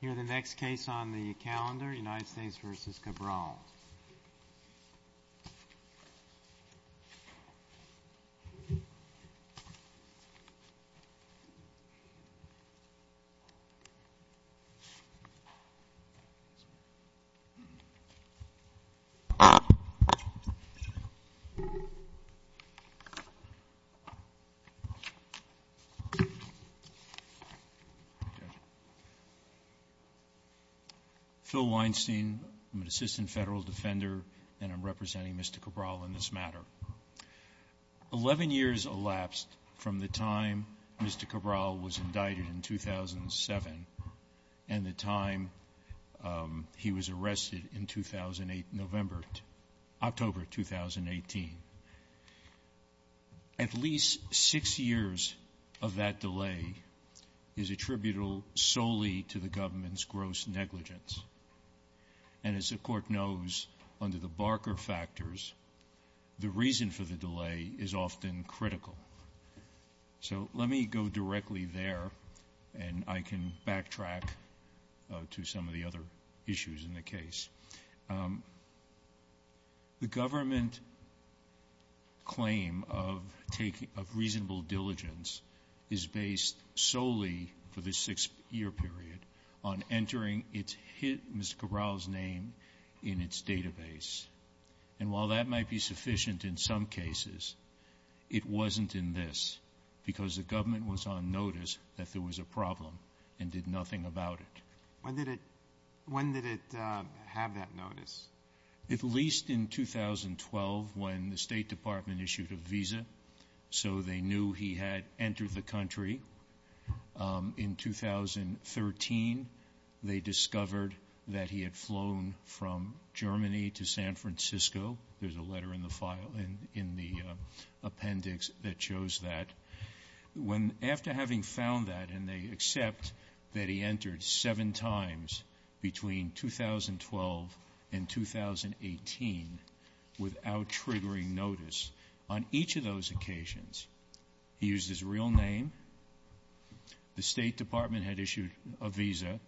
Here is the next case on the calendar, United States v. Cabral. Phil Weinstein, I'm an assistant federal defender, and I'm representing Mr. Cabral in this matter. Eleven years elapsed from the time Mr. Cabral was indicted in 2007 and the time he was arrested in October 2018. At least six years of that delay is attributable solely to the government's gross negligence. And as the Court knows, under the Barker factors, the reason for the delay is often critical. So let me go directly there, and I can backtrack to some of the other issues in the case. The government claim of reasonable diligence is based solely for this six-year period on entering its hit, Mr. Cabral's name, in its database. And while that might be sufficient in some cases, it wasn't in this because the government was on notice that there was a problem and did nothing about it. When did it have that notice? At least in 2012, when the State Department issued a visa, so they knew he had entered the country. In 2013, they discovered that he had flown from Germany to San Francisco. There's a letter in the file, in the appendix, that shows that. After having found that, and they accept that he entered seven times between 2012 and 2018 without triggering notice, on each of those occasions, he used his real name, the State Department had issued a visa,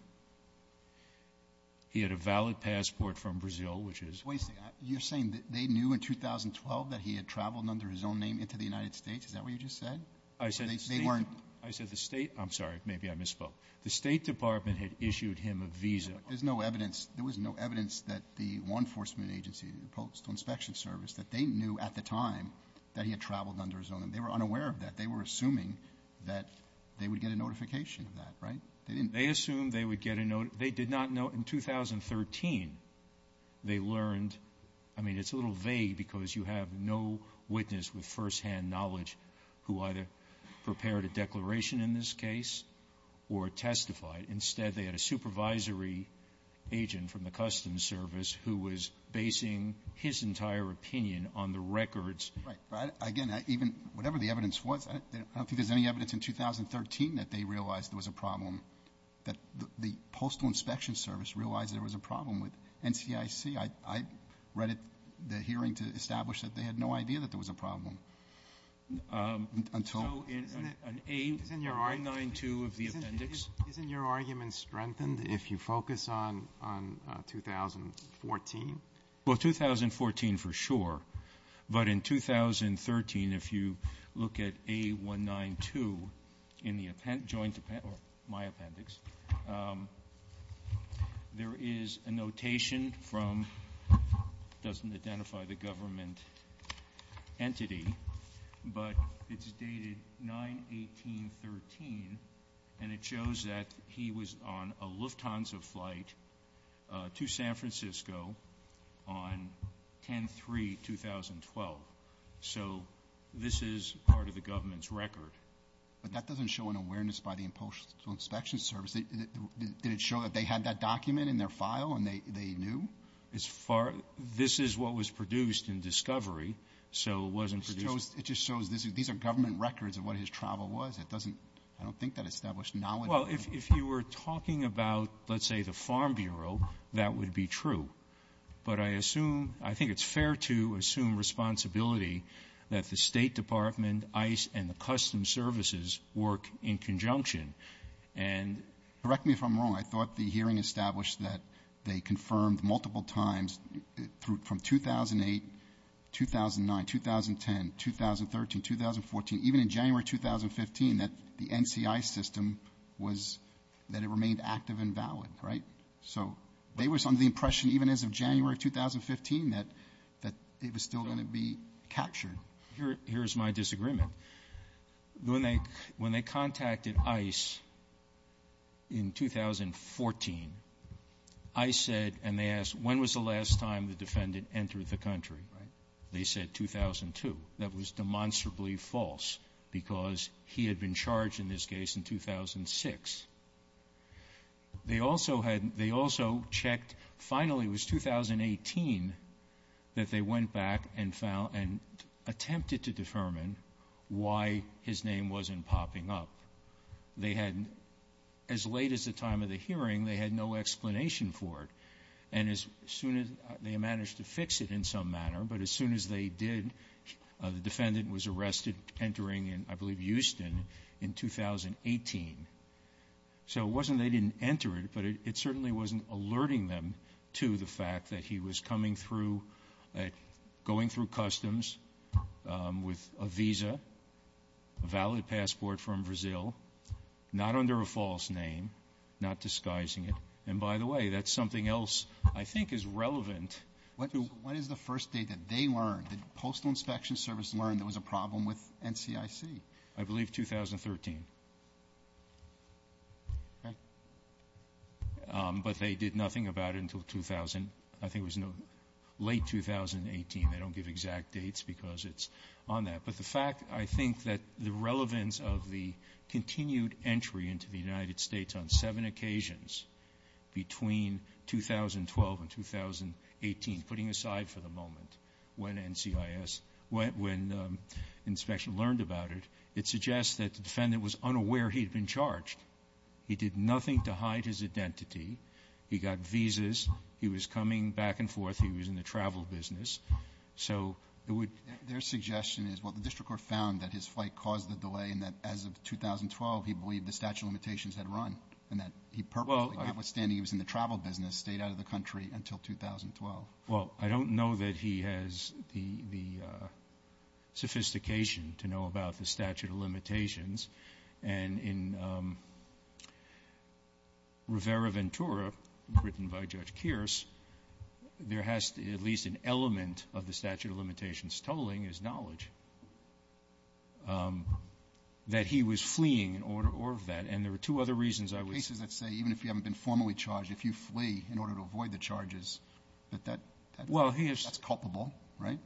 he had a valid passport from Brazil, which is— Wait a second. You're saying that they knew in 2012 that he had traveled under his own name into the United States? Is that what you just said? They weren't— I said the State—I'm sorry. Maybe I misspoke. The State Department had issued him a visa. There's no evidence. There was no evidence that the law enforcement agency, the Postal Inspection Service, that they knew at the time that he had traveled under his own name. They were unaware of that. They were assuming that they would get a notification of that, right? They didn't. They did not know in 2013. They learned—I mean, it's a little vague because you have no witness with firsthand knowledge who either prepared a declaration in this case or testified. Instead, they had a supervisory agent from the Customs Service who was basing his entire opinion on the records. Right. But, again, even whatever the evidence was, I don't think there's any evidence in 2013 that they realized there was a problem, that the Postal Inspection Service realized there was a problem with NCIC. I read the hearing to establish that they had no idea that there was a problem until— So isn't it an A192 of the appendix? Isn't your argument strengthened if you focus on 2014? Well, 2014 for sure, but in 2013, if you look at A192 in the joint appendix, or my appendix, there is a notation from—it doesn't identify the government entity, but it's dated 9-18-13, and it shows that he was on a Lufthansa flight to San Francisco on 10-3-2012. So this is part of the government's record. But that doesn't show an awareness by the Postal Inspection Service. Did it show that they had that document in their file and they knew? This is what was produced in discovery, so it wasn't produced— It just shows these are government records of what his travel was. It doesn't—I don't think that established knowledge. Well, if you were talking about, let's say, the Farm Bureau, that would be true. But I assume—I think it's fair to assume responsibility that the State Department, ICE, and the Customs Services work in conjunction. And— Correct me if I'm wrong. I thought the hearing established that they confirmed multiple times from 2008, 2009, 2010, 2013, 2014, even in January 2015, that the NCI system was—that it remained active and valid, right? So they were under the impression, even as of January 2015, that it was still going to be captured. Here is my disagreement. When they contacted ICE in 2014, ICE said—and they asked, when was the last time the defendant entered the country? Right. They said 2002. That was demonstrably false because he had been charged in this case in 2006. They also had—they also checked—finally, it was 2018 that they went back and found and attempted to determine why his name wasn't popping up. They had—as late as the time of the hearing, they had no explanation for it. And as soon as—they managed to fix it in some manner, but as soon as they did, the So it wasn't they didn't enter it, but it certainly wasn't alerting them to the fact that he was coming through, going through customs with a visa, a valid passport from Brazil, not under a false name, not disguising it. And by the way, that's something else I think is relevant. When is the first date that they learned, the Postal Inspection Service learned there was a problem with NCIC? I believe 2013. But they did nothing about it until 2000. I think it was no—late 2018. They don't give exact dates because it's on that. But the fact—I think that the relevance of the continued entry into the United States on seven occasions between 2012 and 2018, putting aside for the moment when NCIS—when inspection learned about it, it suggests that the defendant was unaware he had been charged. He did nothing to hide his identity. He got visas. He was coming back and forth. He was in the travel business. So it would— Their suggestion is, well, the district court found that his flight caused the delay and that as of 2012 he believed the statute of limitations had run and that he purposely, notwithstanding he was in the travel business, stayed out of the country until 2012. Well, I don't know that he has the sophistication to know about the statute of limitations. And in Rivera-Ventura, written by Judge Kearse, there has to be at least an element of the statute of limitations tolling his knowledge that he was fleeing in order of that. And there are two other reasons I would say. Even if you haven't been formally charged, if you flee in order to avoid the charges, that that's culpable, right?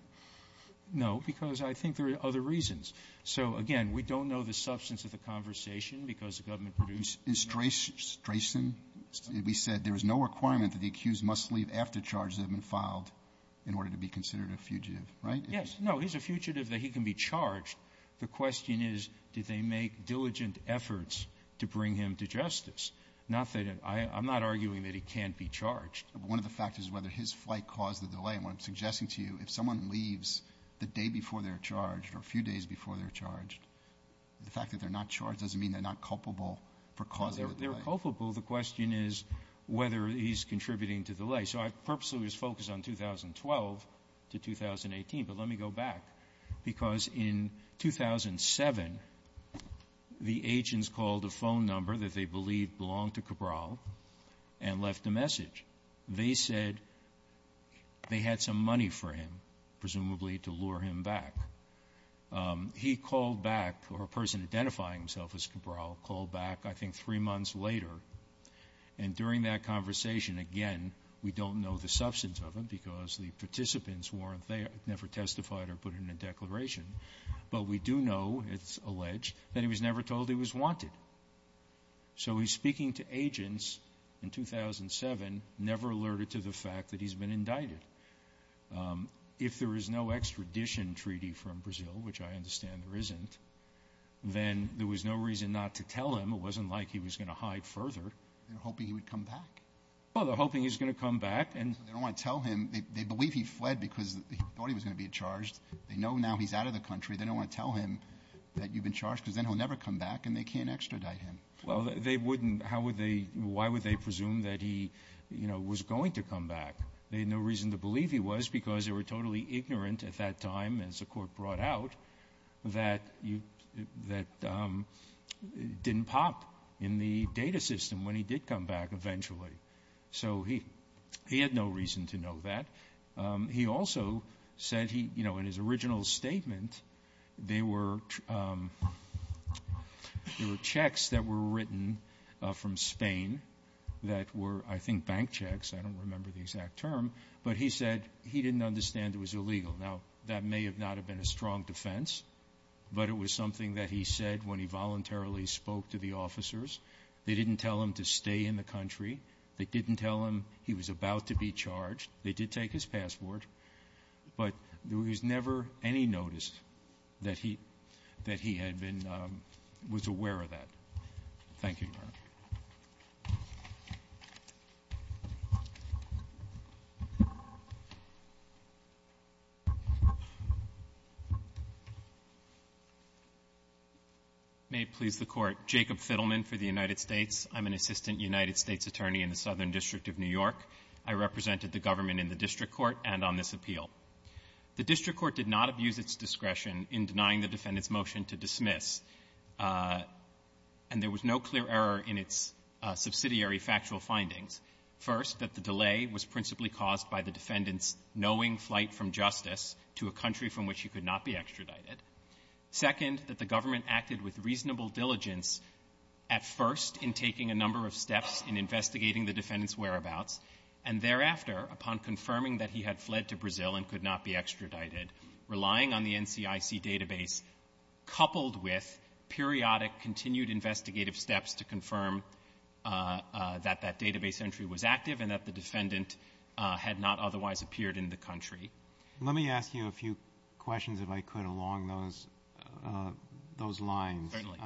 No, because I think there are other reasons. So, again, we don't know the substance of the conversation because the government produced— In Strayson, we said there is no requirement that the accused must leave after charges have been filed in order to be considered a fugitive, right? Yes. No, he's a fugitive that he can be charged. The question is, did they make diligent efforts to bring him to justice? Not that—I'm not arguing that he can't be charged. One of the factors is whether his flight caused the delay. And what I'm suggesting to you, if someone leaves the day before they're charged or a few days before they're charged, the fact that they're not charged doesn't mean they're not culpable for causing the delay. They're culpable. The question is whether he's contributing to the delay. So I purposely was focused on 2012 to 2018. But let me go back because in 2007, the agents called a phone number that they believed belonged to Cabral and left a message. They said they had some money for him, presumably to lure him back. He called back, or a person identifying himself as Cabral called back I think three months later. And during that conversation, again, we don't know the substance of it because the participants never testified or put in a declaration. But we do know, it's alleged, that he was never told he was wanted. So he's speaking to agents in 2007, never alerted to the fact that he's been indicted. If there is no extradition treaty from Brazil, which I understand there isn't, then there was no reason not to tell him. It wasn't like he was going to hide further. They're hoping he would come back. Well, they're hoping he's going to come back. They don't want to tell him. They believe he fled because he thought he was going to be charged. They know now he's out of the country. They don't want to tell him that you've been charged because then he'll never come back and they can't extradite him. Well, they wouldn't. Why would they presume that he was going to come back? They had no reason to believe he was because they were totally ignorant at that time, as the Court brought out, that he didn't pop in the data system when he did come back eventually. So he had no reason to know that. He also said, you know, in his original statement, there were checks that were written from Spain that were, I think, bank checks. I don't remember the exact term. But he said he didn't understand it was illegal. Now, that may not have been a strong defense, but it was something that he said when he voluntarily spoke to the officers. They didn't tell him to stay in the country. They didn't tell him he was about to be charged. They did take his passport. But there was never any notice that he had been was aware of that. Thank you, Your Honor. May it please the Court. Jacob Fiddleman for the United States. I'm an assistant United States attorney in the Southern District of New York. I represented the government in the district court and on this appeal. The district court did not abuse its discretion in denying the defendant's motion to dismiss. And there was no clear error in its subsidiary factual findings. First, that the delay was principally caused by the defendant's knowing flight from justice to a country from which he could not be extradited. Second, that the government acted with reasonable diligence at first in taking a number of steps in investigating the defendant's whereabouts, and thereafter, upon confirming that he had fled to Brazil and could not be extradited, relying on the NCIC database, coupled with periodic continued investigative steps to confirm that that database entry was active and that the defendant had not otherwise appeared in the country. Let me ask you a few questions, if I could, along those lines. Certainly.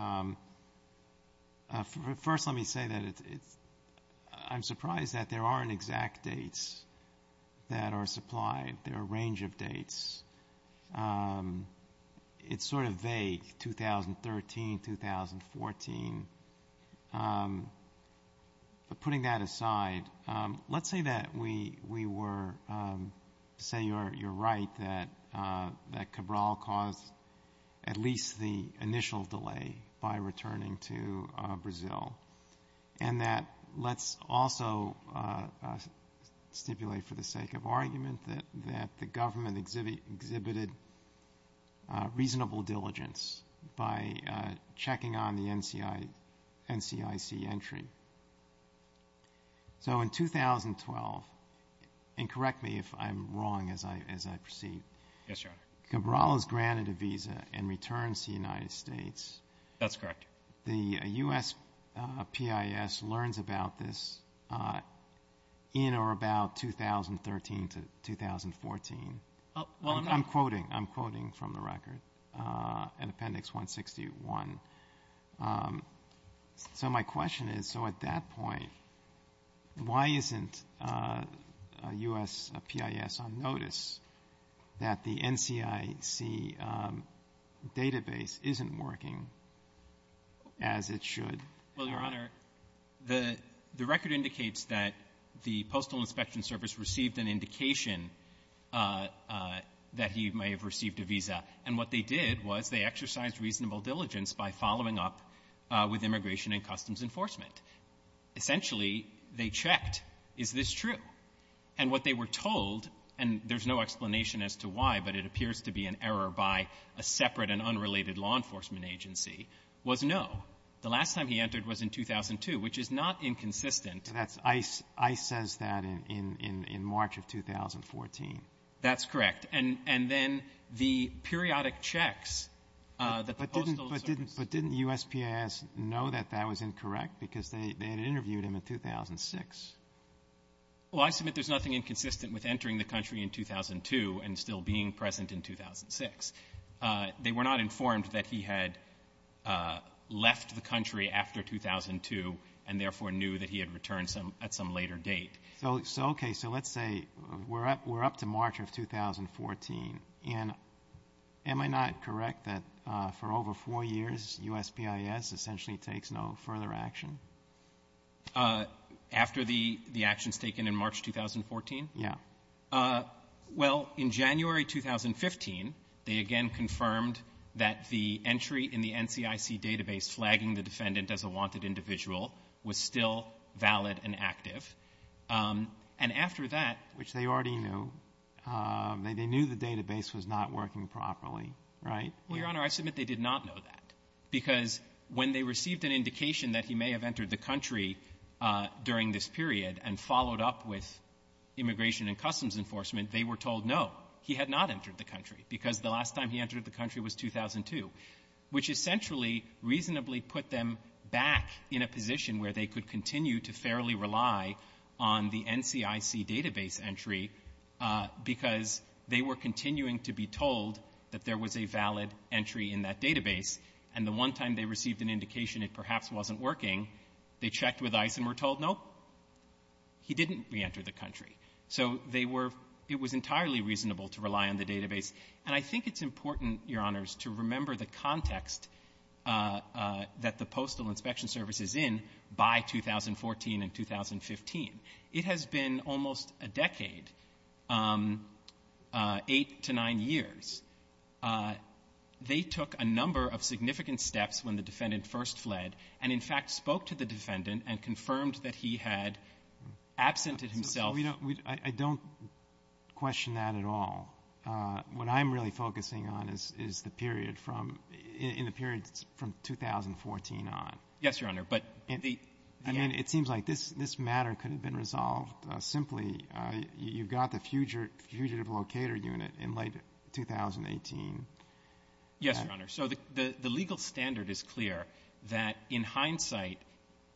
First, let me say that it's — I'm surprised that there aren't exact dates that are supplied. There are a range of dates. It's sort of vague, 2013, 2014. But putting that aside, let's say that we were — say you're right that Cabral caused at least the initial delay by returning to Brazil, and that let's also stipulate, for the sake of argument, that the government exhibited reasonable diligence by checking on the NCIC entry. So in 2012 — and correct me if I'm wrong as I proceed. Yes, Your Honor. Cabral has granted a visa and returns to the United States. That's correct. The USPIS learns about this in or about 2013 to 2014. Well, I'm not — I'm quoting. I'm quoting from the record in Appendix 161. So my question is, so at that point, why isn't USPIS on notice that the NCIC database isn't working as it should? Well, Your Honor, the — the record indicates that the Postal Inspection Service received an indication that he may have received a visa. And what they did was they exercised reasonable diligence by following up with Immigration and Customs Enforcement. Essentially, they checked, is this true? And what they were told, and there's no explanation as to why, but it appears to be an error by a separate and unrelated law enforcement agency, was no. The last time he entered was in 2002, which is not inconsistent. That's — ICE — ICE says that in — in March of 2014. That's correct. And — and then the periodic checks that the Postal Service — But didn't — but didn't USPIS know that that was incorrect? Because they — they had interviewed him in 2006. Well, I submit there's nothing inconsistent with entering the country in 2002 and still being present in 2006. They were not informed that he had left the country after 2002 and therefore knew that he had returned some — at some later date. So — so, okay, so let's say we're up — we're up to March of 2014. And am I not correct that for over four years, USPIS essentially takes no further action? After the — the actions taken in March 2014? Yeah. Well, in January 2015, they again confirmed that the entry in the NCIC database flagging the defendant as a wanted individual was still valid and active. And after that — Which they already knew. They knew the database was not working properly, right? Well, Your Honor, I submit they did not know that. Because when they received an indication that he may have entered the country during this period and followed up with Immigration and Customs Enforcement, they were told, no, he had not entered the country because the last time he entered the country was 2002, which essentially reasonably put them back in a position where they could continue to fairly rely on the NCIC database entry because they were continuing to be told that there was a valid entry in that database. And the one time they received an indication it perhaps wasn't working, they checked with ICE and were told, nope, he didn't reenter the country. So they were — it was entirely reasonable to rely on the database. And I think it's important, Your Honors, to remember the context that the Postal Inspection Service is in by 2014 and 2015. It has been almost a decade, eight to nine years. They took a number of significant steps when the defendant first fled and, in fact, spoke to the defendant and confirmed that he had absented himself. I don't question that at all. What I'm really focusing on is the period from — in the period from 2014 on. Yes, Your Honor. But the — I mean, it seems like this matter could have been resolved simply. You've got the Fugitive Locator Unit in late 2018. Yes, Your Honor. So the legal standard is clear that, in hindsight,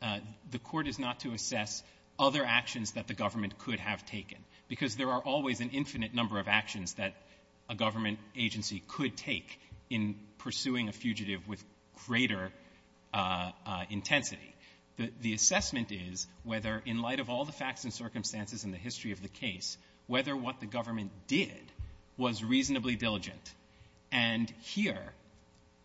the Court is not to assess other actions that the government could have taken, because there are always an infinite number of actions that a government agency could take in pursuing a fugitive with greater intensity. The assessment is whether, in light of all the facts and circumstances in the history of the case, whether what the government did was reasonably diligent. And here,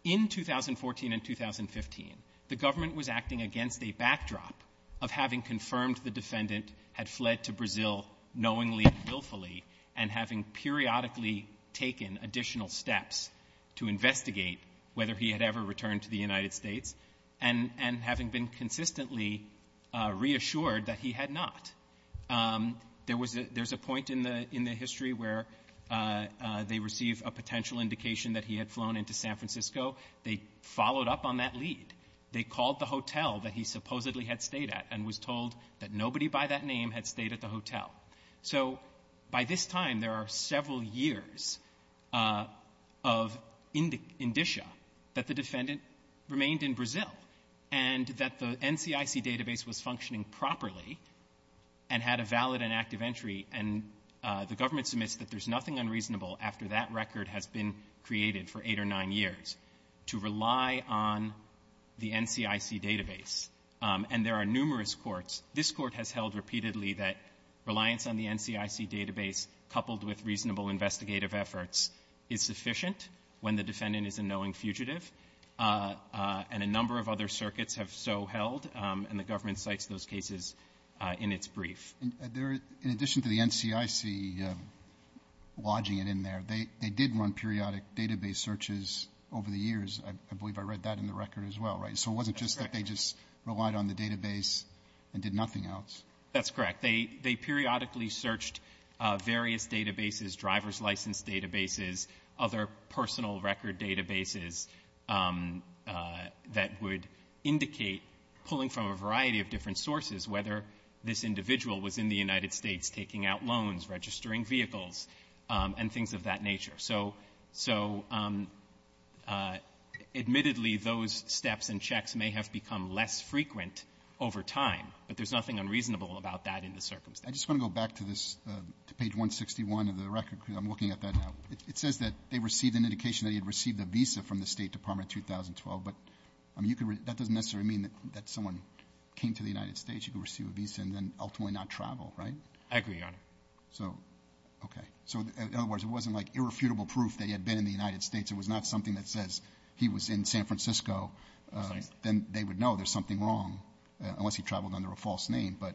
in 2014 and 2015, the government was acting against a backdrop of having confirmed the defendant had fled to Brazil knowingly and willfully and having periodically taken additional steps to investigate whether he had ever returned to the United States and having been consistently reassured that he had not. There was a — there's a point in the — in the history where they receive a potential indication that he had flown into San Francisco. They followed up on that lead. They called the hotel that he supposedly had stayed at and was told that nobody by that name had stayed at the hotel. So by this time, there are several years of indicia that the defendant remained in Brazil and that the NCIC database was functioning properly and had a valid and active entry, and the government submits that there's nothing unreasonable after that record has been created for eight or nine years to rely on the NCIC database. And there are numerous courts. This Court has held repeatedly that reliance on the NCIC database, coupled with reasonable investigative efforts, is sufficient when the defendant is a knowing fugitive. And a number of other circuits have so held, and the government cites those cases in its brief. Robertson In addition to the NCIC lodging it in there, they did run periodic database searches over the years. I believe I read that in the record as well, right? So it wasn't just that they just relied on the database and did nothing else. That's correct. They — they periodically searched various databases, driver's license databases, other personal record databases that would indicate, pulling from a variety of different sources, whether this individual was in the United States taking out loans, registering vehicles, and things of that nature. So — so admittedly, those steps and checks may have become less frequent over time, but there's nothing unreasonable about that in the circumstances. I just want to go back to this, to page 161 of the record, because I'm looking at that now. It says that they received an indication that he had received a visa from the State Department in 2012. But, I mean, you could — that doesn't necessarily mean that someone came to the United States, you could receive a visa, and then ultimately not travel, right? I agree, Your Honor. So, okay. So, in other words, it wasn't like irrefutable proof that he had been in the United States. It was not something that says he was in San Francisco, then they would know there's something wrong, unless he traveled under a false name. But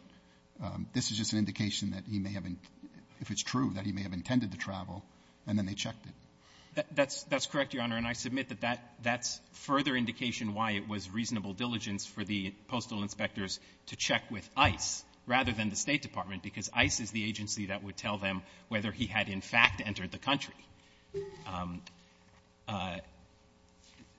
this is just an indication that he may have — if it's true, that he may have intended to travel, and then they checked it. That's — that's correct, Your Honor. And I submit that that — that's further indication why it was reasonable diligence for the postal inspectors to check with ICE rather than the State Department, because ICE is the agency that would tell them whether he had in fact entered the country.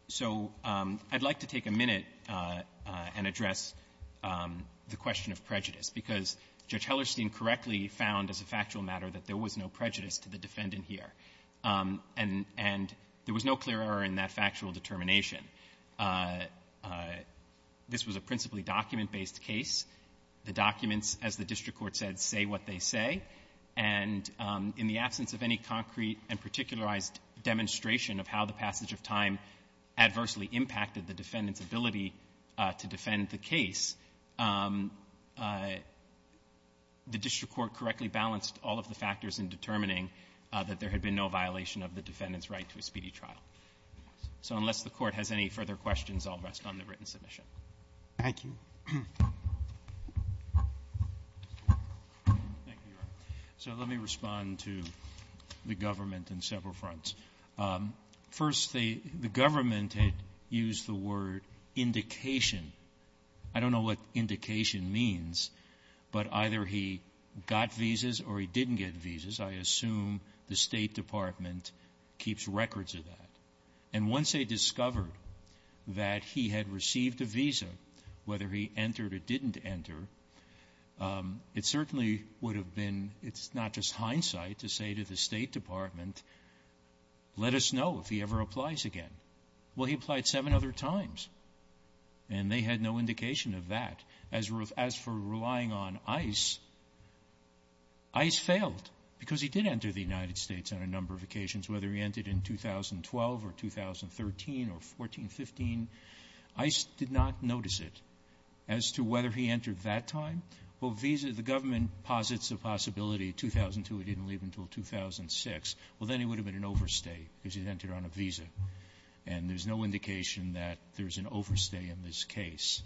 So I'd like to take a minute and address the question of prejudice, because Judge Hellerstein correctly found as a factual matter that there was no prejudice to the defendant here. And — and there was no clear error in that factual determination. This was a principally document-based case. The documents, as the district court said, say what they say. And in the absence of any concrete and particularized demonstration of how the passage of time adversely impacted the defendant's ability to defend the case, the district court correctly balanced all of the factors in determining that there had been no violation of the defendant's right to a speedy trial. So unless the Court has any further questions, I'll rest on the written submission. Thank you. Thank you, Your Honor. So let me respond to the government on several fronts. First, the government had used the word indication. I don't know what indication means, but either he got visas or he didn't get visas. I assume the State Department keeps records of that. And once they discovered that he had received a visa, whether he entered or didn't enter, it certainly would have been — it's not just hindsight to say to the State Department, let us know if he ever applies again. Well, he applied seven other times, and they had no indication of that. As for relying on ICE, ICE failed, because he did enter the United States on a number of occasions. Whether he entered in 2012 or 2013 or 14, 15, ICE did not notice it. As to whether he entered that time, well, visa — the government posits a possibility 2002 he didn't leave until 2006. Well, then he would have been an overstay because he'd entered on a visa. And there's no indication that there's an overstay in this case.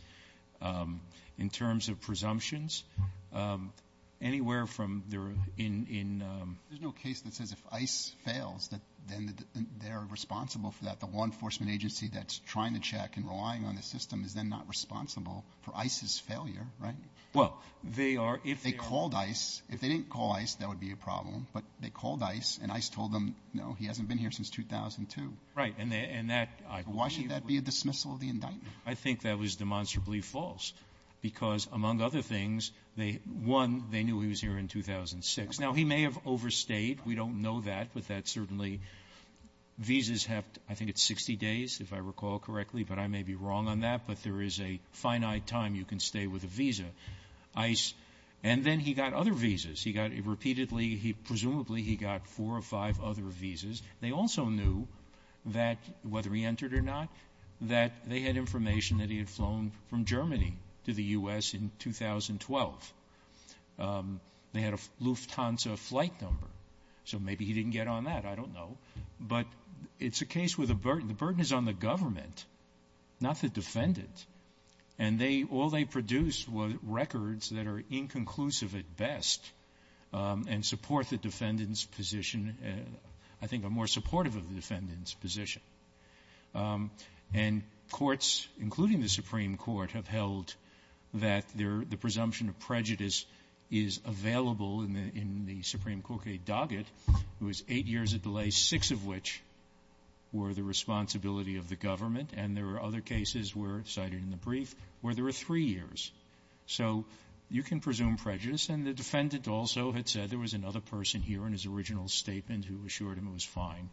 Anywhere from there in — There's no case that says if ICE fails, then they're responsible for that. The law enforcement agency that's trying to check and relying on the system is then not responsible for ICE's failure, right? Well, they are, if they are — They called ICE. If they didn't call ICE, that would be a problem. But they called ICE, and ICE told them, no, he hasn't been here since 2002. Right. And that — Why should that be a dismissal of the indictment? I think that was demonstrably false because, among other things, they — one, they knew he was here in 2006. Now, he may have overstayed. We don't know that. But that certainly — visas have — I think it's 60 days, if I recall correctly. But I may be wrong on that. But there is a finite time you can stay with a visa. ICE — and then he got other visas. He got repeatedly — he — presumably he got four or five other visas. They also knew that — whether he entered or not — that they had information that he had flown from Germany to the U.S. in 2012. They had a Lufthansa flight number. So maybe he didn't get on that. I don't know. But it's a case with a burden. The burden is on the government, not the defendant. And they — all they produced were records that are inconclusive at best and support the defendant's position — I think are more supportive of the defendant's position. And courts, including the Supreme Court, have held that their — the presumption of prejudice is available in the — in the Supreme Court case docket. It was eight years of delay, six of which were the responsibility of the government. And there were other cases where, cited in the brief, where there were three years. So you can presume prejudice. And the defendant also had said there was another person here in his original statement who assured him it was fine,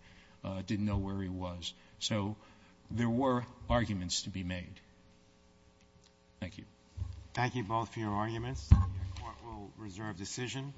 didn't know where he was. So there were arguments to be made. Thank you. Thank you both for your arguments. The Court will reserve decision.